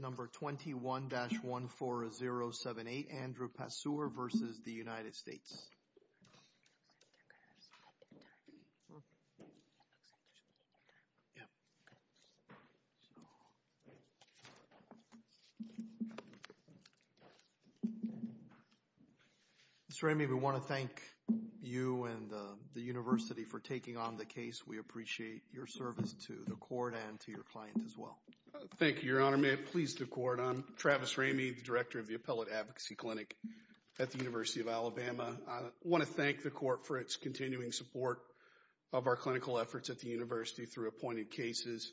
Mr. Ramey, we want to thank you and the university for taking on the case. We appreciate your service to the court and to your client as well. Thank you, Your Honor. May it please the court, I'm Travis Ramey, the director of the Appellate Advocacy Clinic at the University of Alabama. I want to thank the court for its continuing support of our clinical efforts at the university through appointed cases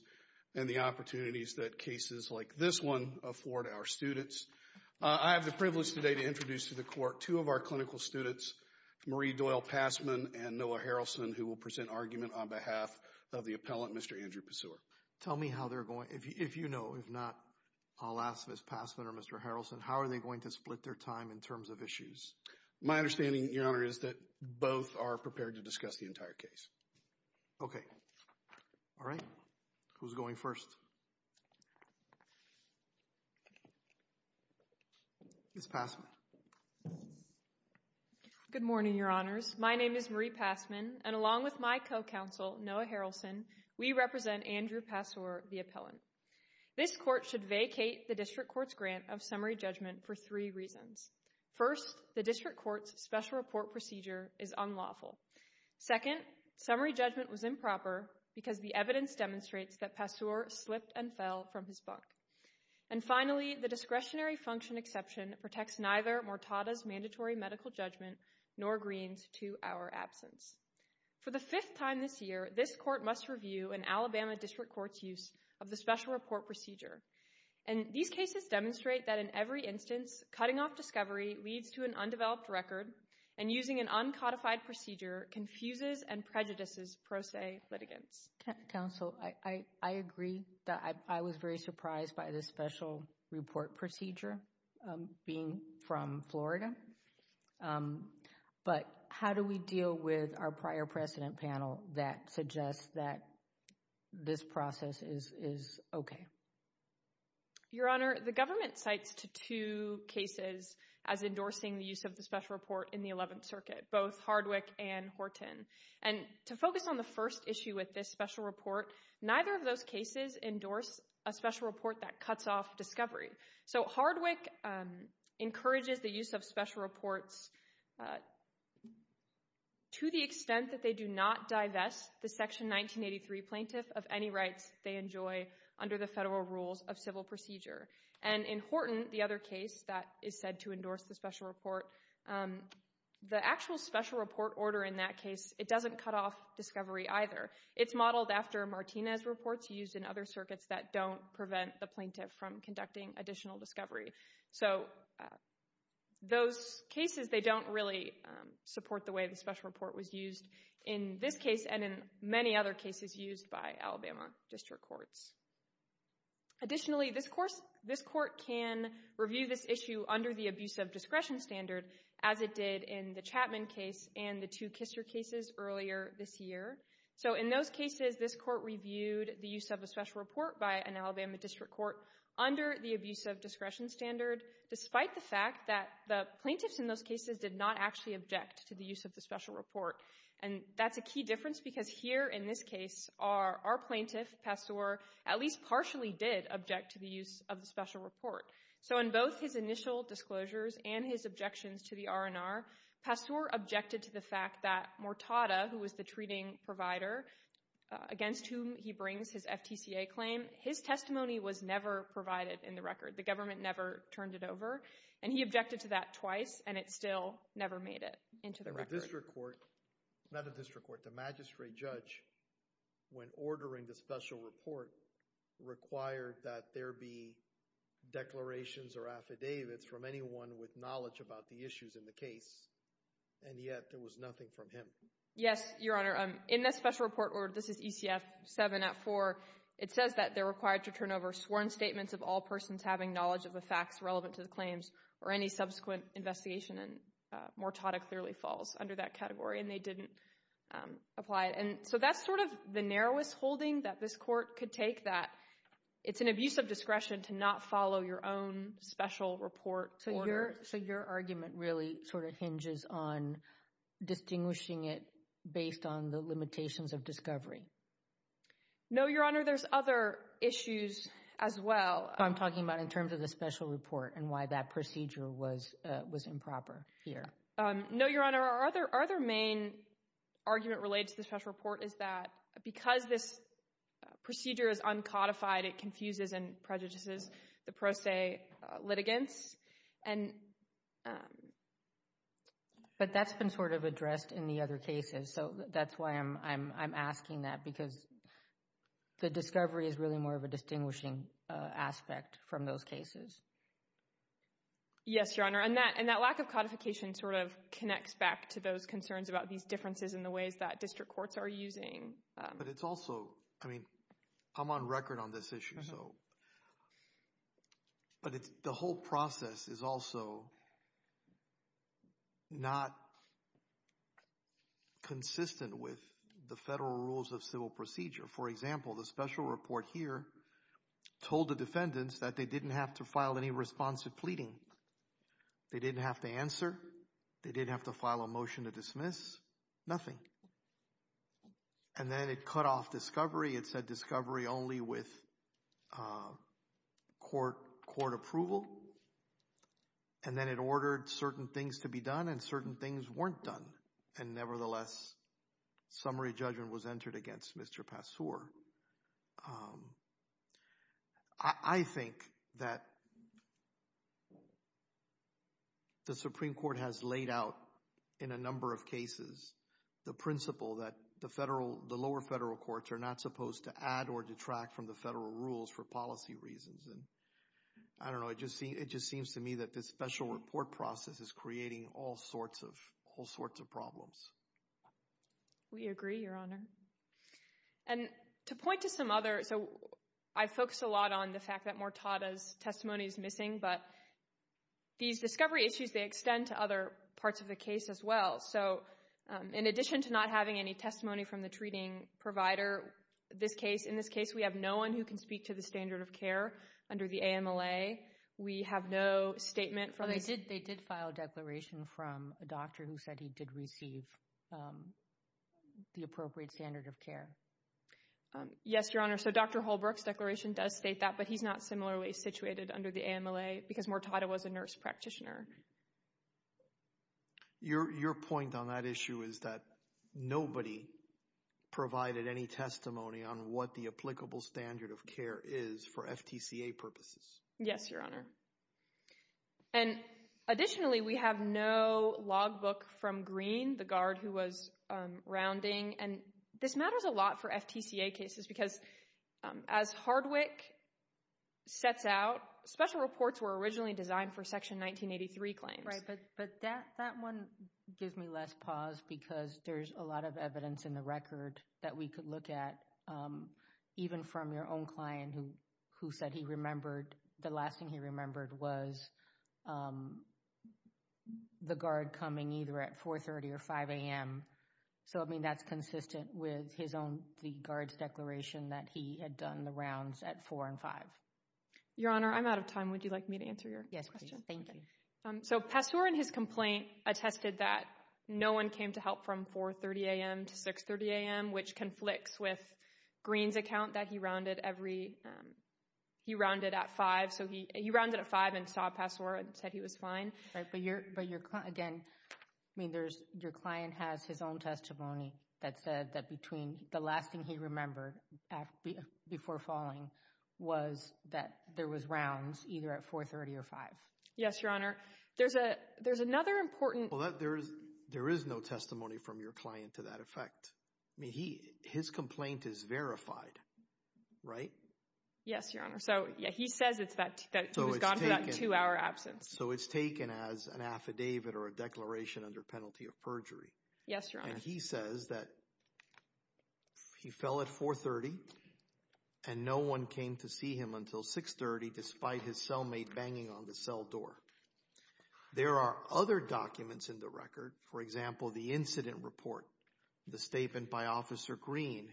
and the opportunities that cases like this one afford our students. I have the privilege today to introduce to the court two of our clinical students, Marie Doyle Passman and Noah Harrelson, who will present argument on behalf of the appellant, Mr. Andrew Paseur. Tell me how they're going, if you know, if not, I'll ask Ms. Passman or Mr. Harrelson, how are they going to split their time in terms of issues? My understanding, Your Honor, is that both are prepared to discuss the entire case. Okay. All right. Who's going first? Ms. Passman. Good morning, Your Honors. My name is Marie Passman, and along with my co-counsel, Noah Harrelson, we represent Andrew Paseur, the appellant. This court should vacate the district court's grant of summary judgment for three reasons. First, the district court's special report procedure is unlawful. Second, summary judgment was improper because the evidence demonstrates that Paseur slipped and fell from his buck. And finally, the discretionary function exception protects neither Mortada's mandatory medical judgment nor Greene's two-hour absence. For the fifth time this year, this court must review an Alabama district court's use of the special report procedure, and these cases demonstrate that in every instance, cutting off discovery leads to an undeveloped record, and using an uncodified procedure confuses and prejudices pro se litigants. Counsel, I agree that I was very surprised by the special report procedure being from Florida. Okay. But how do we deal with our prior precedent panel that suggests that this process is okay? Your Honor, the government cites two cases as endorsing the use of the special report in the 11th Circuit, both Hardwick and Horton. And to focus on the first issue with this special report, neither of those cases endorse a special report that cuts off discovery. So Hardwick encourages the use of special reports to the extent that they do not divest the Section 1983 plaintiff of any rights they enjoy under the federal rules of civil procedure. And in Horton, the other case that is said to endorse the special report, the actual special report order in that case, it doesn't cut off discovery either. It's modeled after Martinez reports used in other circuits that don't prevent the plaintiff from conducting additional discovery. So those cases, they don't really support the way the special report was used in this case and in many other cases used by Alabama district courts. Additionally, this court can review this issue under the abuse of discretion standard as it did in the Chapman case and the two Kisser cases earlier this year. So in those cases, this court reviewed the use of a special report by an Alabama district court under the abuse of discretion standard despite the fact that the plaintiffs in those cases did not actually object to the use of the special report. And that's a key difference because here in this case, our plaintiff, Passore, at least partially did object to the use of the special report. So in both his initial disclosures and his objections to the R&R, Passore objected to the fact that Mortada, who was the treating provider against whom he brings his FTCA claim, his testimony was never provided in the record. The government never turned it over. And he objected to that twice, and it still never made it into the record. And the district court, not the district court, the magistrate judge, when ordering the special report, required that there be declarations or affidavits from anyone with knowledge about the issues in the case, and yet there was nothing from him. Yes, Your Honor. In the special report, or this is ECF 7 at 4, it says that they're required to turn over sworn statements of all persons having knowledge of the facts relevant to the claims or any subsequent investigation, and Mortada clearly falls under that category, and they didn't apply it. And so that's sort of the narrowest holding that this court could take, that it's an abuse of discretion to not follow your own special report order. So your argument really sort of hinges on distinguishing it based on the limitations of discovery? No, Your Honor. There's other issues as well. I'm talking about in terms of the special report and why that procedure was improper here. No, Your Honor. Our other main argument related to the special report is that because this procedure is uncodified, it confuses and prejudices the pro se litigants. But that's been sort of addressed in the other cases, so that's why I'm asking that, because the discovery is really more of a distinguishing aspect from those cases. Yes, Your Honor. And that lack of codification sort of connects back to those concerns about these differences in the ways that district courts are using. But it's also, I mean, I'm on record on this issue, so. But the whole process is also not consistent with the federal rules of civil procedure. For example, the special report here told the defendants that they didn't have to file any responsive pleading. They didn't have to answer. They didn't have to file a motion to dismiss. Nothing. And then it cut off discovery. It said discovery only with court approval. And then it ordered certain things to be done and certain things weren't done. And nevertheless, summary judgment was entered against Mr. Passore. However, I think that the Supreme Court has laid out in a number of cases the principle that the lower federal courts are not supposed to add or detract from the federal rules for policy reasons. And I don't know, it just seems to me that this special report process is creating all sorts of problems. We agree, Your Honor. And to point to some other, so I focus a lot on the fact that Mortada's testimony is missing, but these discovery issues, they extend to other parts of the case as well. So in addition to not having any testimony from the treating provider, this case, in this case, we have no one who can speak to the standard of care under the AMLA. We have no statement from the... They did file a declaration from a doctor who said he did receive the appropriate standard of care. Yes, Your Honor. So Dr. Holbrook's declaration does state that, but he's not similarly situated under the AMLA because Mortada was a nurse practitioner. Your point on that issue is that nobody provided any testimony on what the applicable standard of care is for FTCA purposes. Yes, Your Honor. And additionally, we have no logbook from Green, the guard who was rounding, and this matters a lot for FTCA cases because as Hardwick sets out, special reports were originally designed for Section 1983 claims. Right, but that one gives me less pause because there's a lot of evidence in the record that we could look at, even from your own client who said he remembered, the last thing he remembered was the guard coming either at 4.30 or 5 a.m. So I mean, that's consistent with his own, the guard's declaration that he had done the rounds at 4 and 5. Your Honor, I'm out of time. Would you like me to answer your question? Yes, please. Thank you. So Passore in his complaint attested that no one came to help from 4.30 a.m. to 6.30 a.m., which conflicts with Green's account that he rounded every, he rounded at 5. So he rounded at 5 and saw Passore and said he was fine. Right, but your client, again, I mean, your client has his own testimony that said that between the last thing he remembered before falling was that there was rounds either at 4.30 or 5. Yes, Your Honor. Your Honor, there's a, there's another important Well, there is no testimony from your client to that effect. I mean, he, his complaint is verified, right? Yes, Your Honor. So yeah, he says it's that he was gone for that two-hour absence. So it's taken as an affidavit or a declaration under penalty of perjury. Yes, Your Honor. And he says that he fell at 4.30 and no one came to see him until 6.30 despite his cellmate banging on the cell door. There are other documents in the record, for example, the incident report, the statement by Officer Green,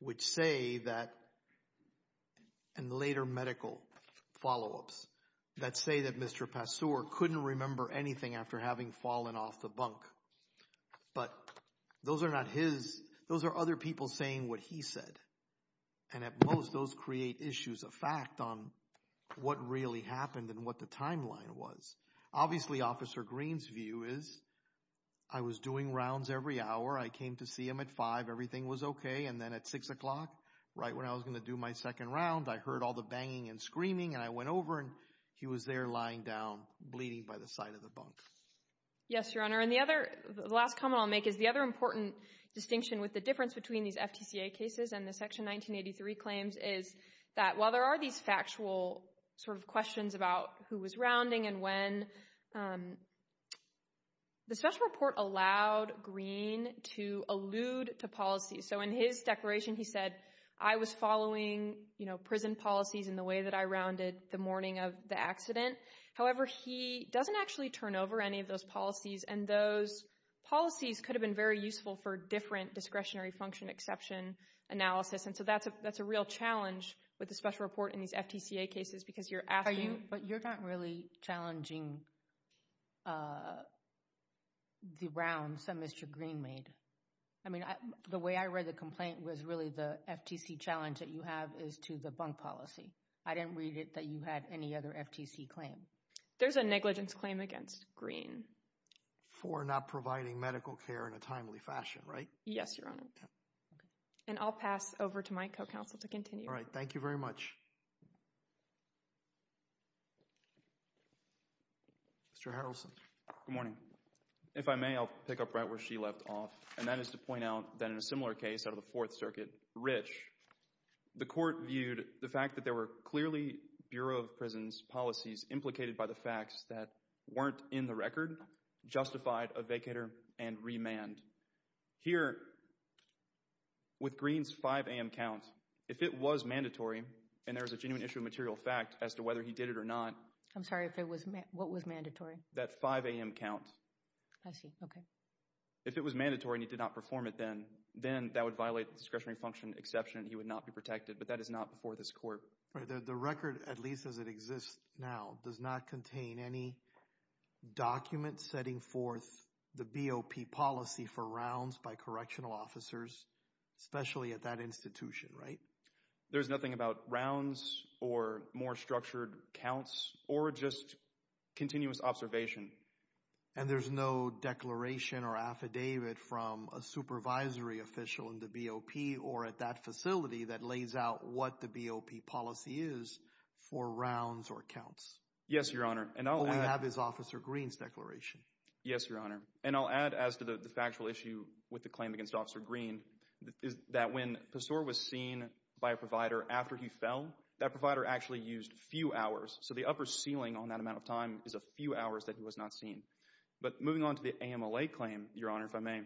which say that, and later medical follow-ups, that say that Mr. Passore couldn't remember anything after having fallen off the bunk. But those are not his, those are other people saying what he said, and at most those create issues of fact on what really happened and what the timeline was. Obviously, Officer Green's view is, I was doing rounds every hour, I came to see him at 5, everything was okay, and then at 6 o'clock, right when I was going to do my second round, I heard all the banging and screaming and I went over and he was there lying down, bleeding by the side of the bunk. Yes, Your Honor. And the other, the last comment I'll make is the other important distinction with the difference between these FTCA cases and the Section 1983 claims is that while there are these factual sort of questions about who was rounding and when, the special report allowed Green to allude to policy. So in his declaration, he said, I was following, you know, prison policies in the way that I rounded the morning of the accident. However, he doesn't actually turn over any of those policies, and those policies could have been very useful for different discretionary function exception analysis, and so that's a real challenge with the special report in these FTCA cases because you're asking. But you're not really challenging the rounds that Mr. Green made. I mean, the way I read the complaint was really the FTC challenge that you have is to the bunk policy. I didn't read it that you had any other FTC claim. There's a negligence claim against Green. For not providing medical care in a timely fashion, right? Yes, Your Honor. And I'll pass over to my co-counsel to continue. All right. Thank you very much. Mr. Harrelson. Good morning. If I may, I'll pick up right where she left off, and that is to point out that in a similar case out of the Fourth Circuit, Rich, the court viewed the fact that there were clearly Bureau of Prisons policies implicated by the facts that weren't in the record justified a vacator and remand. Here, with Green's 5 a.m. count, if it was mandatory, and there's a genuine issue of material fact as to whether he did it or not. I'm sorry, if it was, what was mandatory? That 5 a.m. count. I see. Okay. If it was mandatory and he did not perform it then, then that would violate the discretionary function exception. He would not be protected. But that is not before this court. The record, at least as it exists now, does not contain any document setting forth the BOP policy for rounds by correctional officers, especially at that institution, right? There's nothing about rounds or more structured counts or just continuous observation. And there's no declaration or affidavit from a supervisory official in the BOP or at that facility that lays out what the BOP policy is for rounds or counts. Yes, Your Honor. All we have is Officer Green's declaration. Yes, Your Honor. And I'll add as to the factual issue with the claim against Officer Green is that when Pessoir was seen by a provider after he fell, that provider actually used few hours. So the upper ceiling on that amount of time is a few hours that he was not seen. But moving on to the AMLA claim, Your Honor, if I may,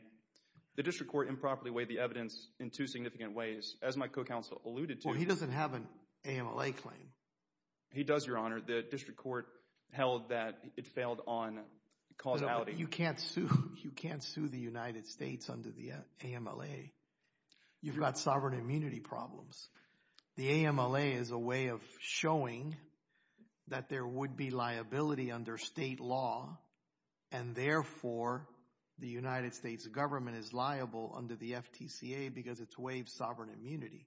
the district court improperly weighed the evidence in two significant ways. As my co-counsel alluded to. Well, he doesn't have an AMLA claim. He does, Your Honor. The district court held that it failed on causality. You can't sue. You can't sue the United States under the AMLA. You've got sovereign immunity problems. The AMLA is a way of showing that there would be liability under state law and therefore the United States government is liable under the FTCA because it's waived sovereign immunity.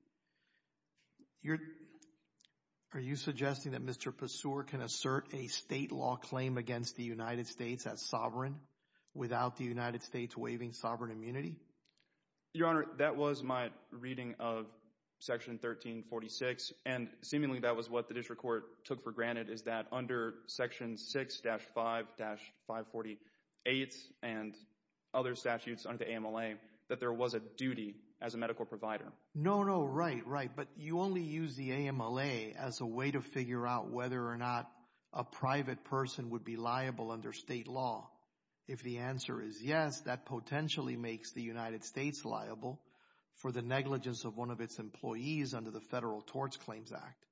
Are you suggesting that Mr. Pessoir can assert a state law claim against the United States as sovereign without the United States waiving sovereign immunity? Your Honor, that was my reading of Section 1346 and seemingly that was what the district court took for granted is that under Section 6-5-548 and other statutes under the AMLA that there was a duty as a medical provider. No, no. Right, right. But you only use the AMLA as a way to figure out whether or not a private person would be liable under state law. If the answer is yes, that potentially makes the United States liable for the negligence of one of its employees under the Federal Tort Claims Act.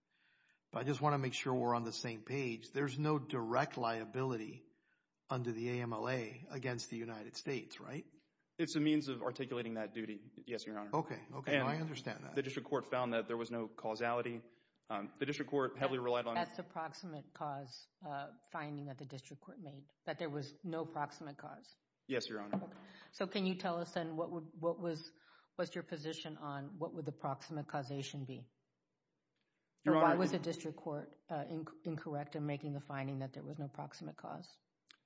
But I just want to make sure we're on the same page. There's no direct liability under the AMLA against the United States, right? It's a means of articulating that duty, yes, Your Honor. Okay, okay. I understand that. The district court found that there was no causality. The district court heavily relied on... That's the proximate cause finding that the district court made, that there was no proximate cause. Yes, Your Honor. So can you tell us then what was your position on what would the proximate causation be? Why was the district court incorrect in making the finding that there was no proximate cause?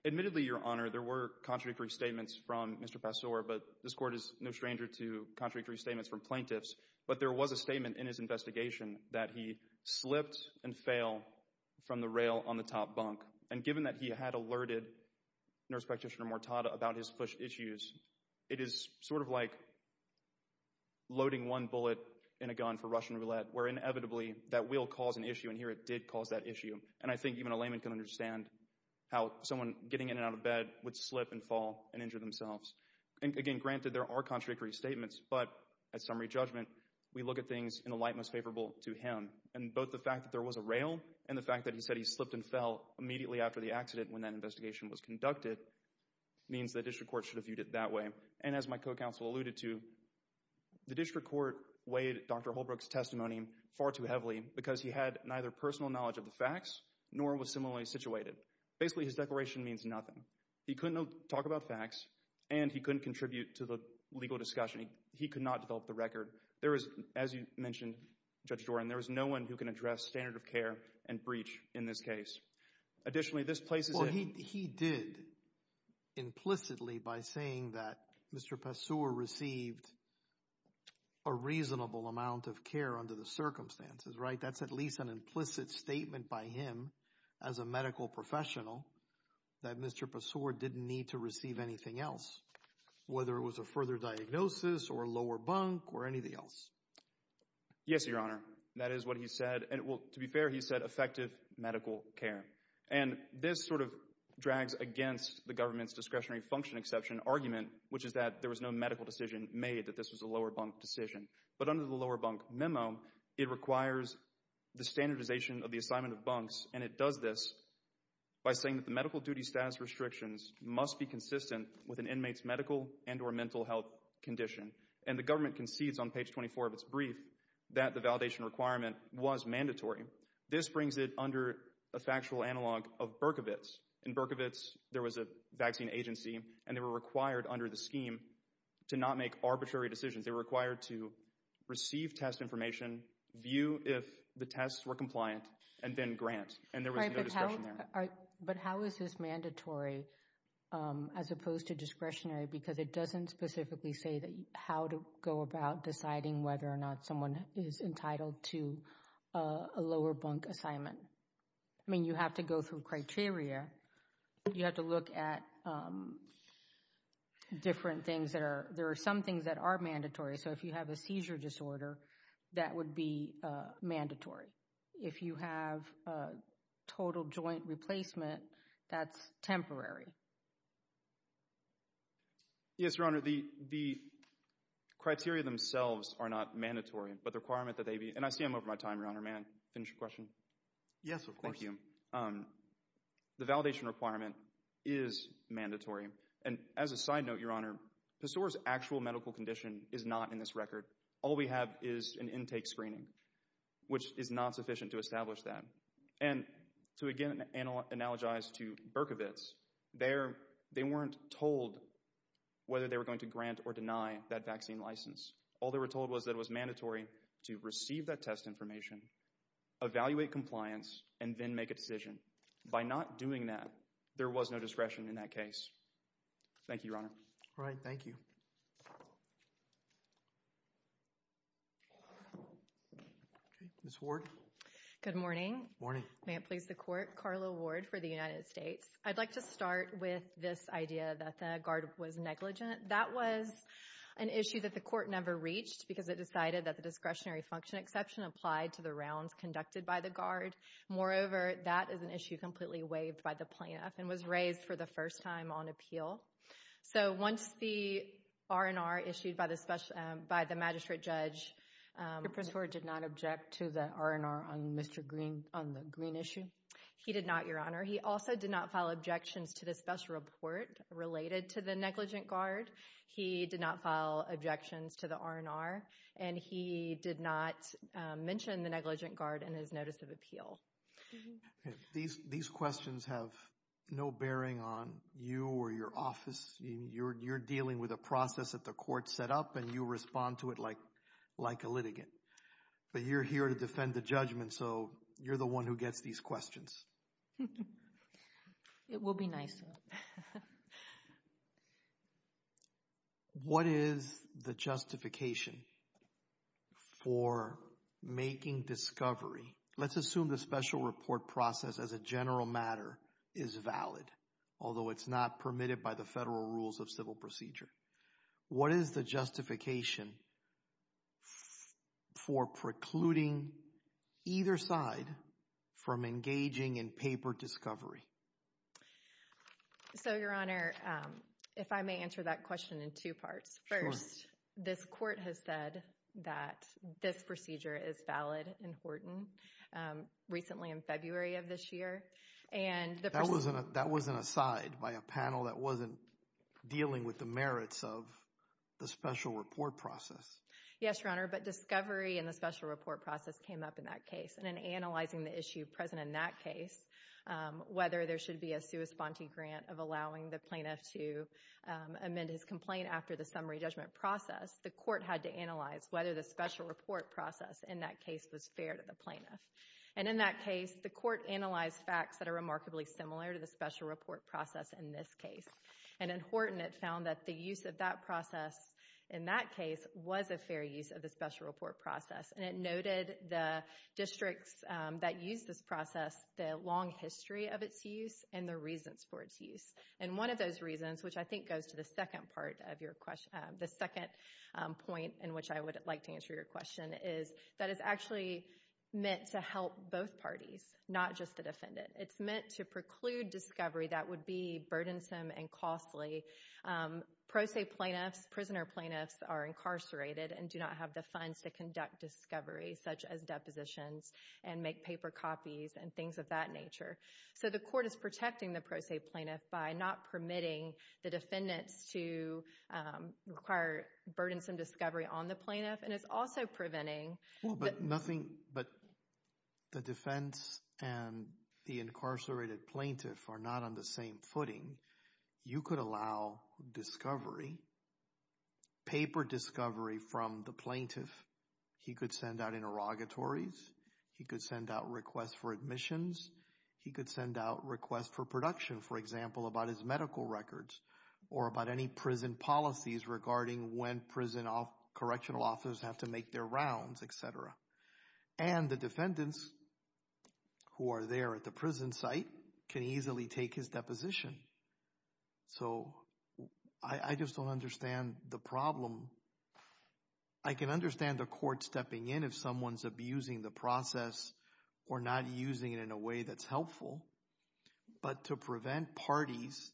Admittedly, Your Honor, there were contradictory statements from Mr. Passore, but this court is no stranger to contradictory statements from plaintiffs. But there was a statement in his investigation that he slipped and fell from the rail on the top bunk. And given that he had alerted Nurse Practitioner Mortada about his push issues, it is sort of like loading one bullet in a gun for Russian roulette, where inevitably, that will cause an issue, and here it did cause that issue. And I think even a layman can understand how someone getting in and out of bed would slip and fall and injure themselves. And again, granted, there are contradictory statements, but at summary judgment, we look at things in a light most favorable to him. And both the fact that there was a rail and the fact that he said he slipped and fell immediately after the accident when that investigation was conducted means the district court should have viewed it that way. And as my co-counsel alluded to, the district court weighed Dr. Holbrook's testimony far too heavily because he had neither personal knowledge of the facts, nor was similarly situated. Basically, his declaration means nothing. He couldn't talk about facts, and he couldn't contribute to the legal discussion. He could not develop the record. There is, as you mentioned, Judge Doran, there is no one who can address standard of care and breach in this case. Additionally, this places him... Well, he did implicitly by saying that Mr. Passore received a reasonable amount of care under the circumstances, right? That's at least an implicit statement by him as a medical professional that Mr. Passore didn't need to receive anything else, whether it was a further diagnosis or lower bunk or anything else. Yes, Your Honor. That is what he said. To be fair, he said effective medical care. And this sort of drags against the government's discretionary function exception argument, which is that there was no medical decision made that this was a lower bunk decision. But under the lower bunk memo, it requires the standardization of the assignment of bunks, and it does this by saying that the medical duty status restrictions must be consistent with an inmate's medical and or mental health condition. And the government concedes on page 24 of its brief that the validation requirement was mandatory. This brings it under a factual analog of Berkovitz. In Berkovitz, there was a vaccine agency and they were required under the scheme to not make arbitrary decisions. They were required to receive test information, view if the tests were compliant, and then grant. And there was no discretion there. But how is this mandatory as opposed to discretionary? Because it doesn't specifically say that how to go about deciding whether or not someone is entitled to a lower bunk assignment. I mean, you have to go through criteria. You have to look at different things that are, there are some things that are mandatory. So if you have a seizure disorder, that would be mandatory. If you have a total joint replacement, that's temporary. Yes, Your Honor, the criteria themselves are not mandatory, but the requirement that they be, and I see I'm over my time, Your Honor, may I finish the question? Yes, of course. Thank you. The validation requirement is mandatory. And as a side note, Your Honor, PASOA's actual medical condition is not in this record. All we have is an intake screening, which is not sufficient to establish that. And to again analogize to Berkovitz, they weren't told whether they were going to grant or deny that vaccine license. All they were told was that it was mandatory to receive that test information, evaluate compliance, and then make a decision. By not doing that, there was no discretion in that case. Thank you, Your Honor. All right. Thank you. Ms. Ward? Good morning. Good morning. May it please the Court. Carla Ward for the United States. I'd like to start with this idea that the guard was negligent. That was an issue that the Court never reached, because it decided that the discretionary function exception applied to the rounds conducted by the guard. Moreover, that is an issue completely waived by the plaintiff and was raised for the first time on appeal. So once the R&R issued by the magistrate judge— Did the prosecutor not object to the R&R on the Green issue? He did not, Your Honor. He also did not file objections to the special report related to the negligent guard. He did not file objections to the R&R. And he did not mention the negligent guard in his notice of appeal. These questions have no bearing on you or your office. You're dealing with a process that the Court set up, and you respond to it like a litigant. But you're here to defend the judgment, so you're the one who gets these questions. It will be nice. What is the justification for making discovery—let's assume the special report process as a general matter is valid, although it's not permitted by the federal rules of civil procedure. What is the justification for precluding either side from engaging in paper discovery? So Your Honor, if I may answer that question in two parts. First, this Court has said that this procedure is valid in Horton, recently in February of this year. That wasn't a side by a panel that wasn't dealing with the merits of the special report process. Yes, Your Honor. But discovery and the special report process came up in that case. And in analyzing the issue present in that case, whether there should be a sui sponte grant of allowing the plaintiff to amend his complaint after the summary judgment process, the Court had to analyze whether the special report process in that case was fair to the plaintiff. And in that case, the Court analyzed facts that are remarkably similar to the special report process in this case. And in Horton, it found that the use of that process in that case was a fair use of the special report process. And it noted the districts that used this process, the long history of its use, and the reasons for its use. And one of those reasons, which I think goes to the second part of your question—the second point in which I would like to answer your question—is that it's actually meant to help both parties, not just the defendant. It's meant to preclude discovery that would be burdensome and costly. Pro se plaintiffs, prisoner plaintiffs, are incarcerated and do not have the funds to conduct discovery, such as depositions and make paper copies and things of that nature. So the Court is protecting the pro se plaintiff by not permitting the defendants to require burdensome discovery on the plaintiff. And it's also preventing— Well, but nothing—but the defense and the incarcerated plaintiff are not on the same footing. You could allow discovery, paper discovery from the plaintiff. He could send out interrogatories. He could send out requests for admissions. He could send out requests for production, for example, about his medical records or about any prison policies regarding when prison correctional officers have to make their rounds, et cetera. And the defendants who are there at the prison site can easily take his deposition. So I just don't understand the problem. I can understand the Court stepping in if someone's abusing the process or not using it in a way that's helpful. But to prevent parties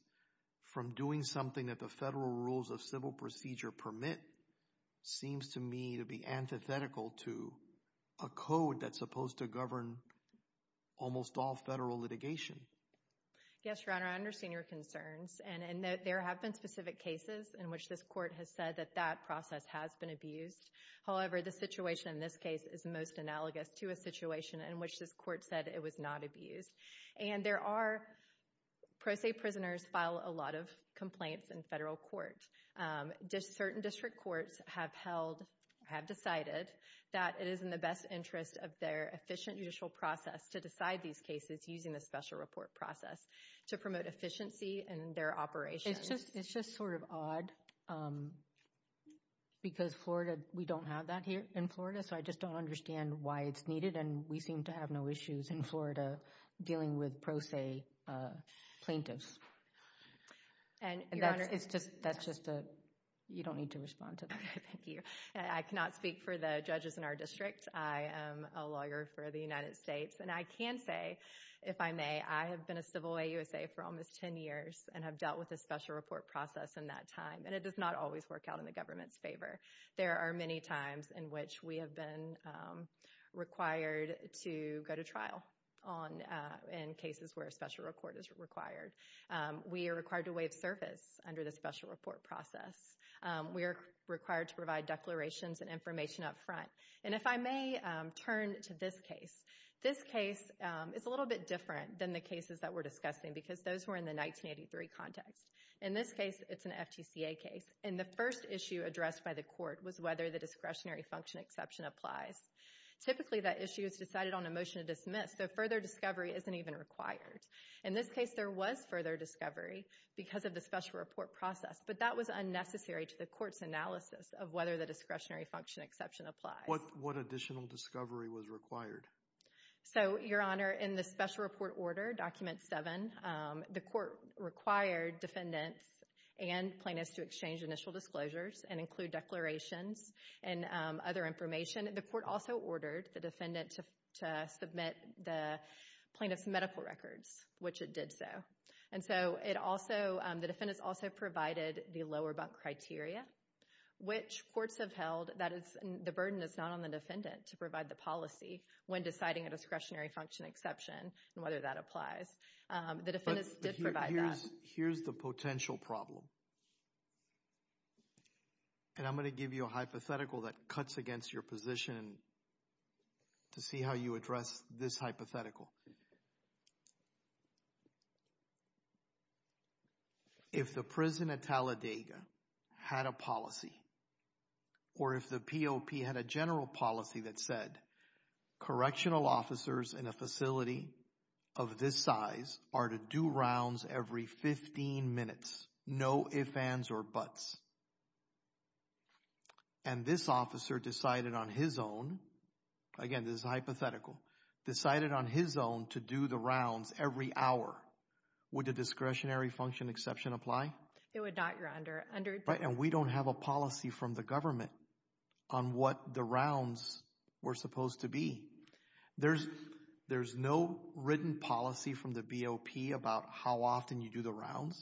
from doing something that the federal rules of civil procedure permit seems to me to be antithetical to a code that's supposed to govern almost all federal litigation. Yes, Your Honor, I understand your concerns. And there have been specific cases in which this Court has said that that process has been abused. However, the situation in this case is most analogous to a situation in which this Court said it was not abused. And there are, pro se prisoners file a lot of complaints in federal court. Certain district courts have held, have decided that it is in the best interest of their efficient judicial process to decide these cases using the special report process to promote efficiency in their operations. It's just, it's just sort of odd because Florida, we don't have that here in Florida. So I just don't understand why it's needed and we seem to have no issues in Florida dealing with pro se plaintiffs. And that's just, that's just a, you don't need to respond to that. Thank you. I cannot speak for the judges in our district. I am a lawyer for the United States and I can say, if I may, I have been a civil way USA for almost 10 years and have dealt with a special report process in that time. And it does not always work out in the government's favor. There are many times in which we have been required to go to trial on, in cases where a special report is required. We are required to waive service under the special report process. We are required to provide declarations and information up front. And if I may turn to this case, this case, it's a little bit different than the cases that we're discussing because those were in the 1983 context. In this case, it's an FTCA case. And the first issue addressed by the court was whether the discretionary function exception applies. Typically, that issue is decided on a motion to dismiss, so further discovery isn't even required. In this case, there was further discovery because of the special report process, but that was unnecessary to the court's analysis of whether the discretionary function exception applies. What additional discovery was required? So Your Honor, in the special report order, document seven, the court required defendants and plaintiffs to exchange initial disclosures and include declarations and other information. The court also ordered the defendant to submit the plaintiff's medical records, which it did so. And so it also, the defendants also provided the lower bunk criteria, which courts have held that the burden is not on the defendant to provide the policy when deciding a discretionary function exception and whether that applies. The defendants did provide that. Here's the potential problem, and I'm going to give you a hypothetical that cuts against your position to see how you address this hypothetical. If the prison at Talladega had a policy, or if the POP had a general policy that said correctional officers in a facility of this size are to do rounds every 15 minutes, no ifs, ands, or buts, and this officer decided on his own, again, this is hypothetical, decided on his own to do the rounds every hour, would the discretionary function exception apply? It would not, Your Honor. Right, and we don't have a policy from the government on what the rounds were supposed to be. There's no written policy from the POP about how often you do the rounds.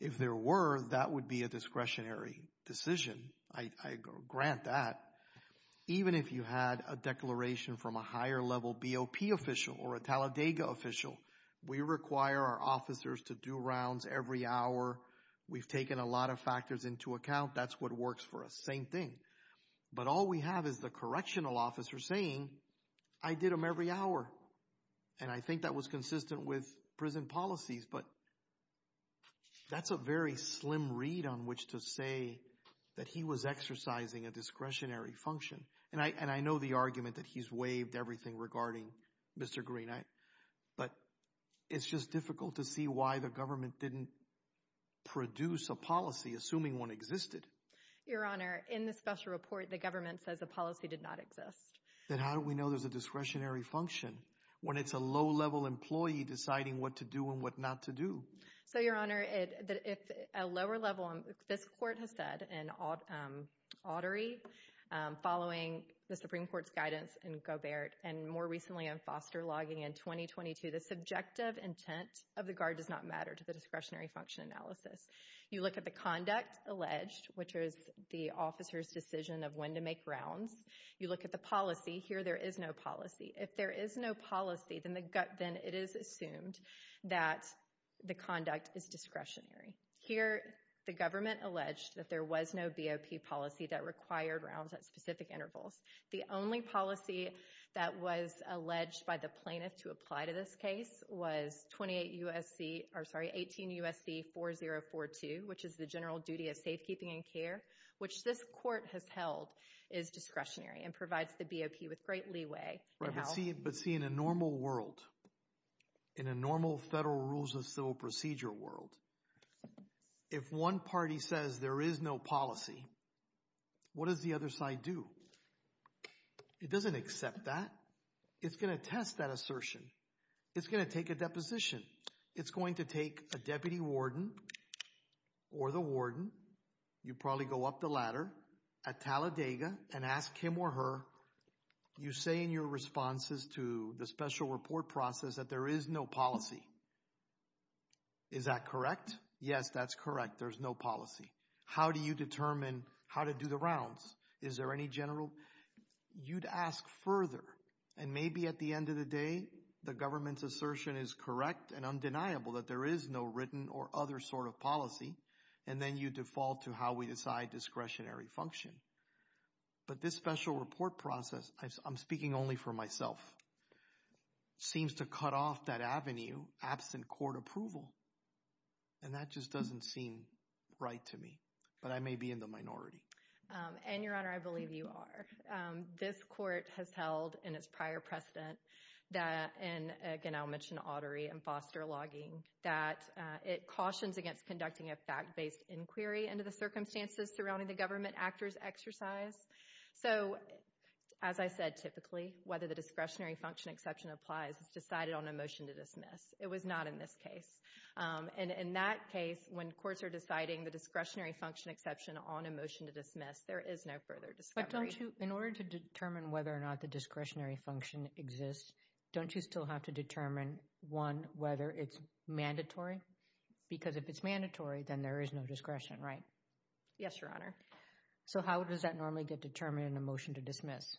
If there were, that would be a discretionary decision. I grant that. Even if you had a declaration from a higher level POP official or a Talladega official, we require our officers to do rounds every hour. We've taken a lot of factors into account. That's what works for us. Same thing. But all we have is the correctional officer saying, I did them every hour. And I think that was consistent with prison policies, but that's a very slim read on which to say that he was exercising a discretionary function, and I know the argument that he's waived everything regarding Mr. Green. But it's just difficult to see why the government didn't produce a policy, assuming one existed. Your Honor, in the special report, the government says a policy did not exist. Then how do we know there's a discretionary function when it's a low-level employee deciding what to do and what not to do? So Your Honor, if a lower level, this court has said, an artery, following the Supreme Court ruling, and more recently in Foster Logging in 2022, the subjective intent of the guard does not matter to the discretionary function analysis. You look at the conduct alleged, which is the officer's decision of when to make rounds. You look at the policy. Here there is no policy. If there is no policy, then it is assumed that the conduct is discretionary. Here the government alleged that there was no BOP policy that required rounds at specific intervals. The only policy that was alleged by the plaintiff to apply to this case was 18 U.S.C. 4042, which is the general duty of safekeeping and care, which this court has held is discretionary and provides the BOP with great leeway. But see, in a normal world, in a normal federal rules of civil procedure world, if one party says there is no policy, what does the other side do? It doesn't accept that. It's going to test that assertion. It's going to take a deposition. It's going to take a deputy warden or the warden. You probably go up the ladder at Talladega and ask him or her, you say in your responses to the special report process that there is no policy. Is that correct? Yes, that's correct. There's no policy. How do you determine how to do the rounds? Is there any general? You'd ask further, and maybe at the end of the day, the government's assertion is correct and undeniable that there is no written or other sort of policy, and then you default to how we decide discretionary function. But this special report process, I'm speaking only for myself, seems to cut off that avenue absent court approval, and that just doesn't seem right to me, but I may be in the minority. And Your Honor, I believe you are. This court has held in its prior precedent that, and again, I'll mention auditory and foster logging, that it cautions against conducting a fact-based inquiry into the circumstances surrounding the government actor's exercise. So as I said, typically, whether the discretionary function exception applies, it's decided on a motion to dismiss. It was not in this case. And in that case, when courts are deciding the discretionary function exception on a motion to dismiss, there is no further discovery. But don't you, in order to determine whether or not the discretionary function exists, don't you still have to determine, one, whether it's mandatory? Because if it's mandatory, then there is no discretion, right? Yes, Your Honor. So how does that normally get determined in a motion to dismiss?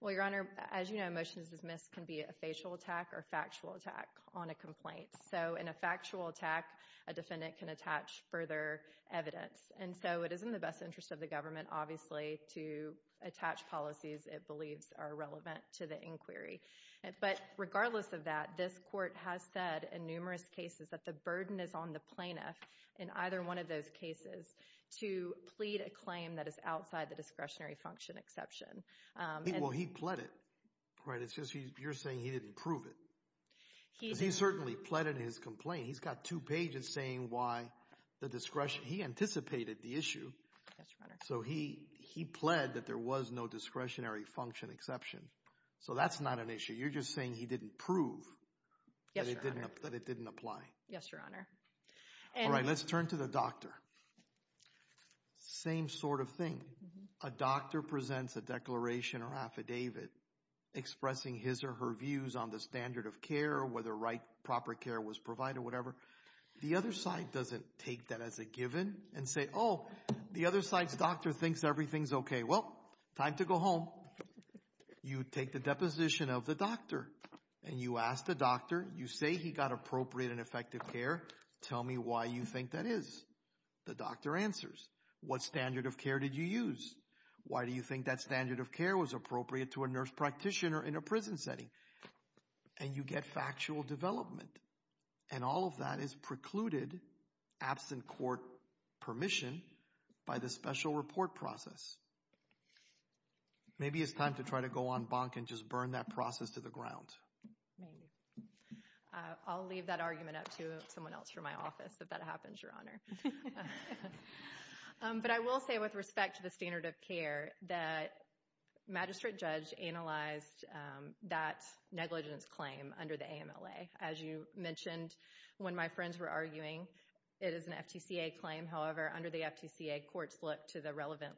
Well, Your Honor, as you know, a motion to dismiss can be a facial attack or factual attack on a complaint. So in a factual attack, a defendant can attach further evidence. And so it is in the best interest of the government, obviously, to attach policies it believes are relevant to the inquiry. But regardless of that, this court has said in numerous cases that the burden is on the plaintiff in either one of those cases to plead a claim that is outside the discretionary function exception. Well, he pled it, right? It's just you're saying he didn't prove it. He certainly pled in his complaint. He's got two pages saying why the discretion, he anticipated the issue. So he pled that there was no discretionary function exception. So that's not an issue. You're just saying he didn't prove that it didn't apply. Yes, Your Honor. All right, let's turn to the doctor. Same sort of thing. A doctor presents a declaration or affidavit expressing his or her views on the standard of care, whether right proper care was provided, whatever. The other side doesn't take that as a given and say, oh, the other side's doctor thinks everything's okay. Well, time to go home. You take the deposition of the doctor and you ask the doctor, you say he got appropriate and effective care. Tell me why you think that is. The doctor answers, what standard of care did you use? Why do you think that standard of care was appropriate to a nurse practitioner in a prison setting? And you get factual development. And all of that is precluded, absent court permission, by the special report process. Maybe it's time to try to go on bonk and just burn that process to the ground. Maybe. I'll leave that argument up to someone else from my office, if that happens, Your Honor. But I will say with respect to the standard of care, that magistrate judge analyzed that negligence claim under the AMLA. As you mentioned, when my friends were arguing, it is an FTCA claim, however, under the FTCA courts look to the relevant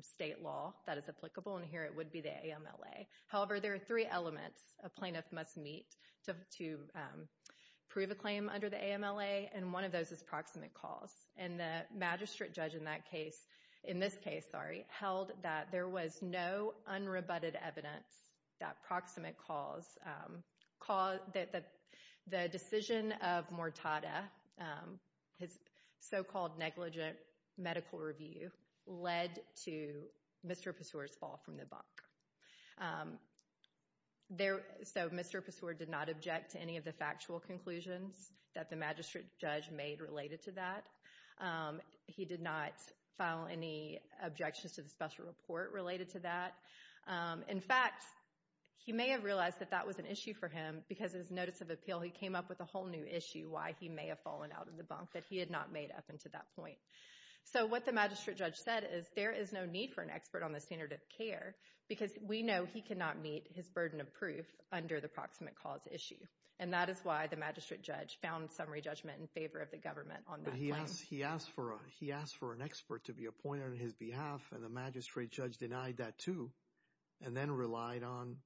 state law that is applicable, and here it would be the AMLA. However, there are three elements a plaintiff must meet to prove a claim under the AMLA, and one of those is proximate cause. And the magistrate judge in that case, in this case, sorry, held that there was no unrebutted evidence that proximate cause, the decision of Mortada, his so-called negligent medical review, led to Mr. Passeur's fall from the bonk. So Mr. Passeur did not object to any of the factual conclusions that the magistrate judge made related to that. He did not file any objections to the special report related to that. In fact, he may have realized that that was an issue for him because his notice of appeal, he came up with a whole new issue why he may have fallen out of the bonk that he had not made up until that point. So what the magistrate judge said is, there is no need for an expert on the standard of care because we know he cannot meet his burden of proof under the proximate cause issue. And that is why the magistrate judge found summary judgment in favor of the government on that claim. But he asked for an expert to be appointed on his behalf, and the magistrate judge denied that too, and then relied on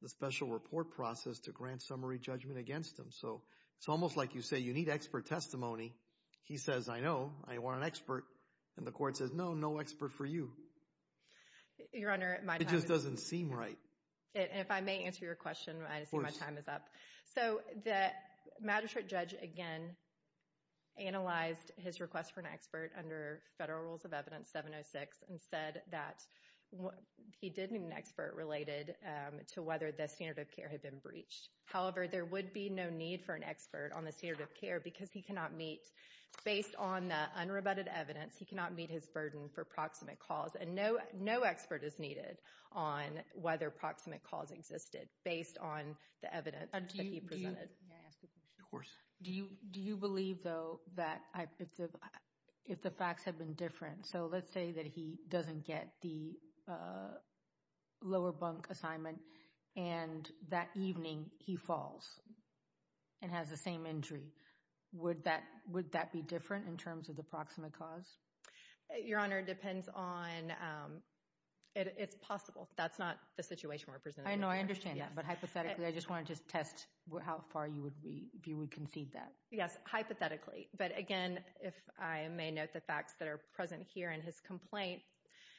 the special report process to grant summary judgment against him. So it's almost like you say, you need expert testimony. He says, I know, I want an expert, and the court says, no, no expert for you. It just doesn't seem right. If I may answer your question, I see my time is up. So the magistrate judge again analyzed his request for an expert under Federal Rules of Evidence 706 and said that he didn't need an expert related to whether the standard of care had been breached. However, there would be no need for an expert on the standard of care because he cannot meet, based on the unrebutted evidence, he cannot meet his burden for proximate cause. And no expert is needed on whether proximate cause existed based on the evidence that he presented. May I ask a question? Of course. Do you believe, though, that if the facts had been different, so let's say that he doesn't get the lower bunk assignment and that evening he falls and has the same injury, would that be different in terms of the proximate cause? Your Honor, it depends on, it's possible. That's not the situation we're presenting. I know, I understand that. But hypothetically, I just wanted to test how far you would concede that. Yes, hypothetically. But again, if I may note the facts that are present here in his complaint,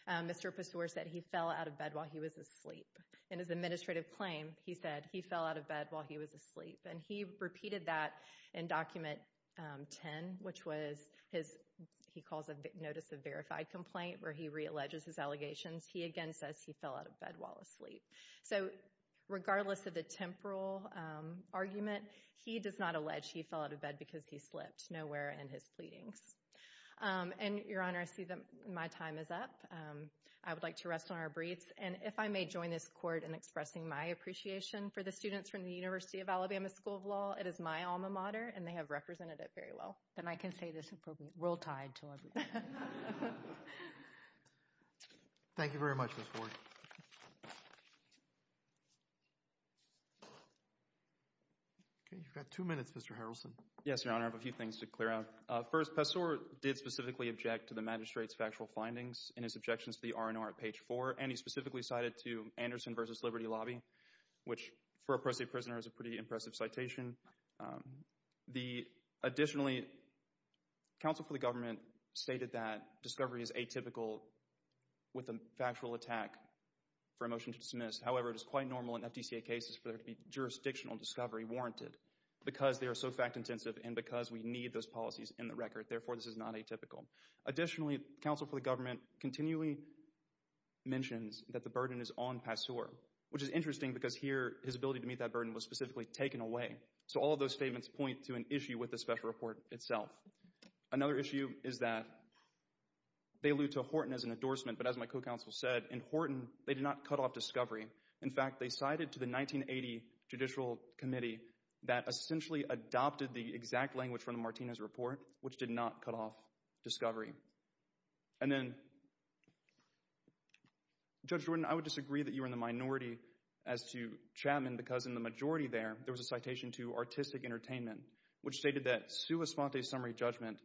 Mr. Passore said he fell out of bed while he was asleep. In his administrative claim, he said he fell out of bed while he was asleep. And he repeated that in document 10, which was his, he calls a notice of verified complaint where he re-alleges his allegations. He again says he fell out of bed while asleep. So regardless of the temporal argument, he does not allege he fell out of bed because he slipped nowhere in his pleadings. And Your Honor, I see that my time is up. I would like to rest on our breaths. And if I may join this Court in expressing my appreciation for the students from the University of Alabama School of Law, it is my alma mater, and they have represented it very well. Then I can say this appropriately. Roll Tide to everybody. Thank you very much, Ms. Ford. Okay, you've got two minutes, Mr. Harrelson. Yes, Your Honor. I have a few things to clear out. First, Passore did specifically object to the magistrate's factual findings in his objections to the R&R at page 4, and he specifically cited to Anderson v. Liberty Lobby, which for a pro-state prisoner is a pretty impressive citation. Additionally, counsel for the government stated that discovery is atypical with a factual attack for a motion to dismiss. However, it is quite normal in FDCA cases for there to be jurisdictional discovery warranted because they are so fact-intensive and because we need those policies in the record. Therefore, this is not atypical. Additionally, counsel for the government continually mentions that the burden is on Passore, which is interesting because here, his ability to meet that burden was specifically taken away. So all of those statements point to an issue with the special report itself. Another issue is that they allude to Horton as an endorsement, but as my co-counsel said, in Horton, they did not cut off discovery. In fact, they cited to the 1980 Judicial Committee that essentially adopted the exact language from the Martinez report, which did not cut off discovery. And then, Judge Jordan, I would disagree that you were in the minority as to Chapman because in the majority there, there was a citation to Artistic Entertainment, which stated that sua sponte summary judgment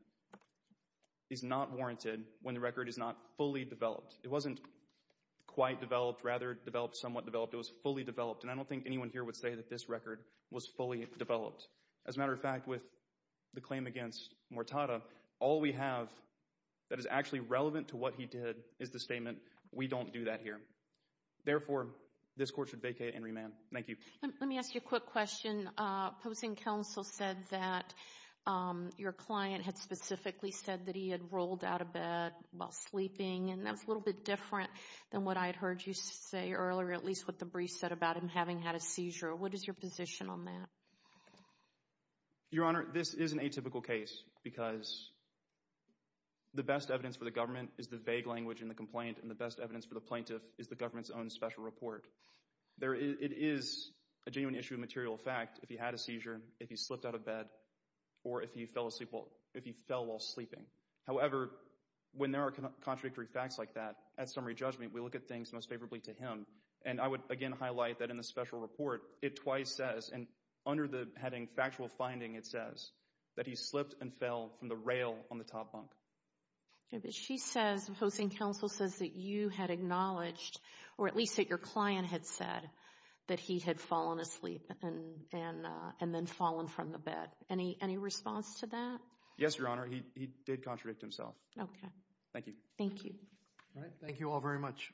is not warranted when the record is not fully developed. It wasn't quite developed, rather developed, somewhat developed. It was fully developed, and I don't think anyone here would say that this record was fully developed. As a matter of fact, with the claim against Mortada, all we have that is actually relevant to what he did is the statement, we don't do that here. Therefore, this court should vacate and remand. Thank you. Let me ask you a quick question. Opposing counsel said that your client had specifically said that he had rolled out of bed while sleeping, and that's a little bit different than what I had heard you say earlier, at least what the brief said about him having had a seizure. What is your position on that? Your Honor, this is an atypical case because the best evidence for the government is the vague language in the complaint, and the best evidence for the plaintiff is the government's own special report. It is a genuine issue of material fact if he had a seizure, if he slipped out of bed, or if he fell while sleeping. However, when there are contradictory facts like that, at summary judgment, we look at things most favorably to him. And I would again highlight that in the special report, it twice says, and under the heading factual finding it says, that he slipped and fell from the rail on the top bunk. Okay, but she says, opposing counsel says that you had acknowledged, or at least that your client had said, that he had fallen asleep and then fallen from the bed. Any response to that? Yes, Your Honor, he did contradict himself. Okay. Thank you. Thank you. All right, thank you all very much. Thank you.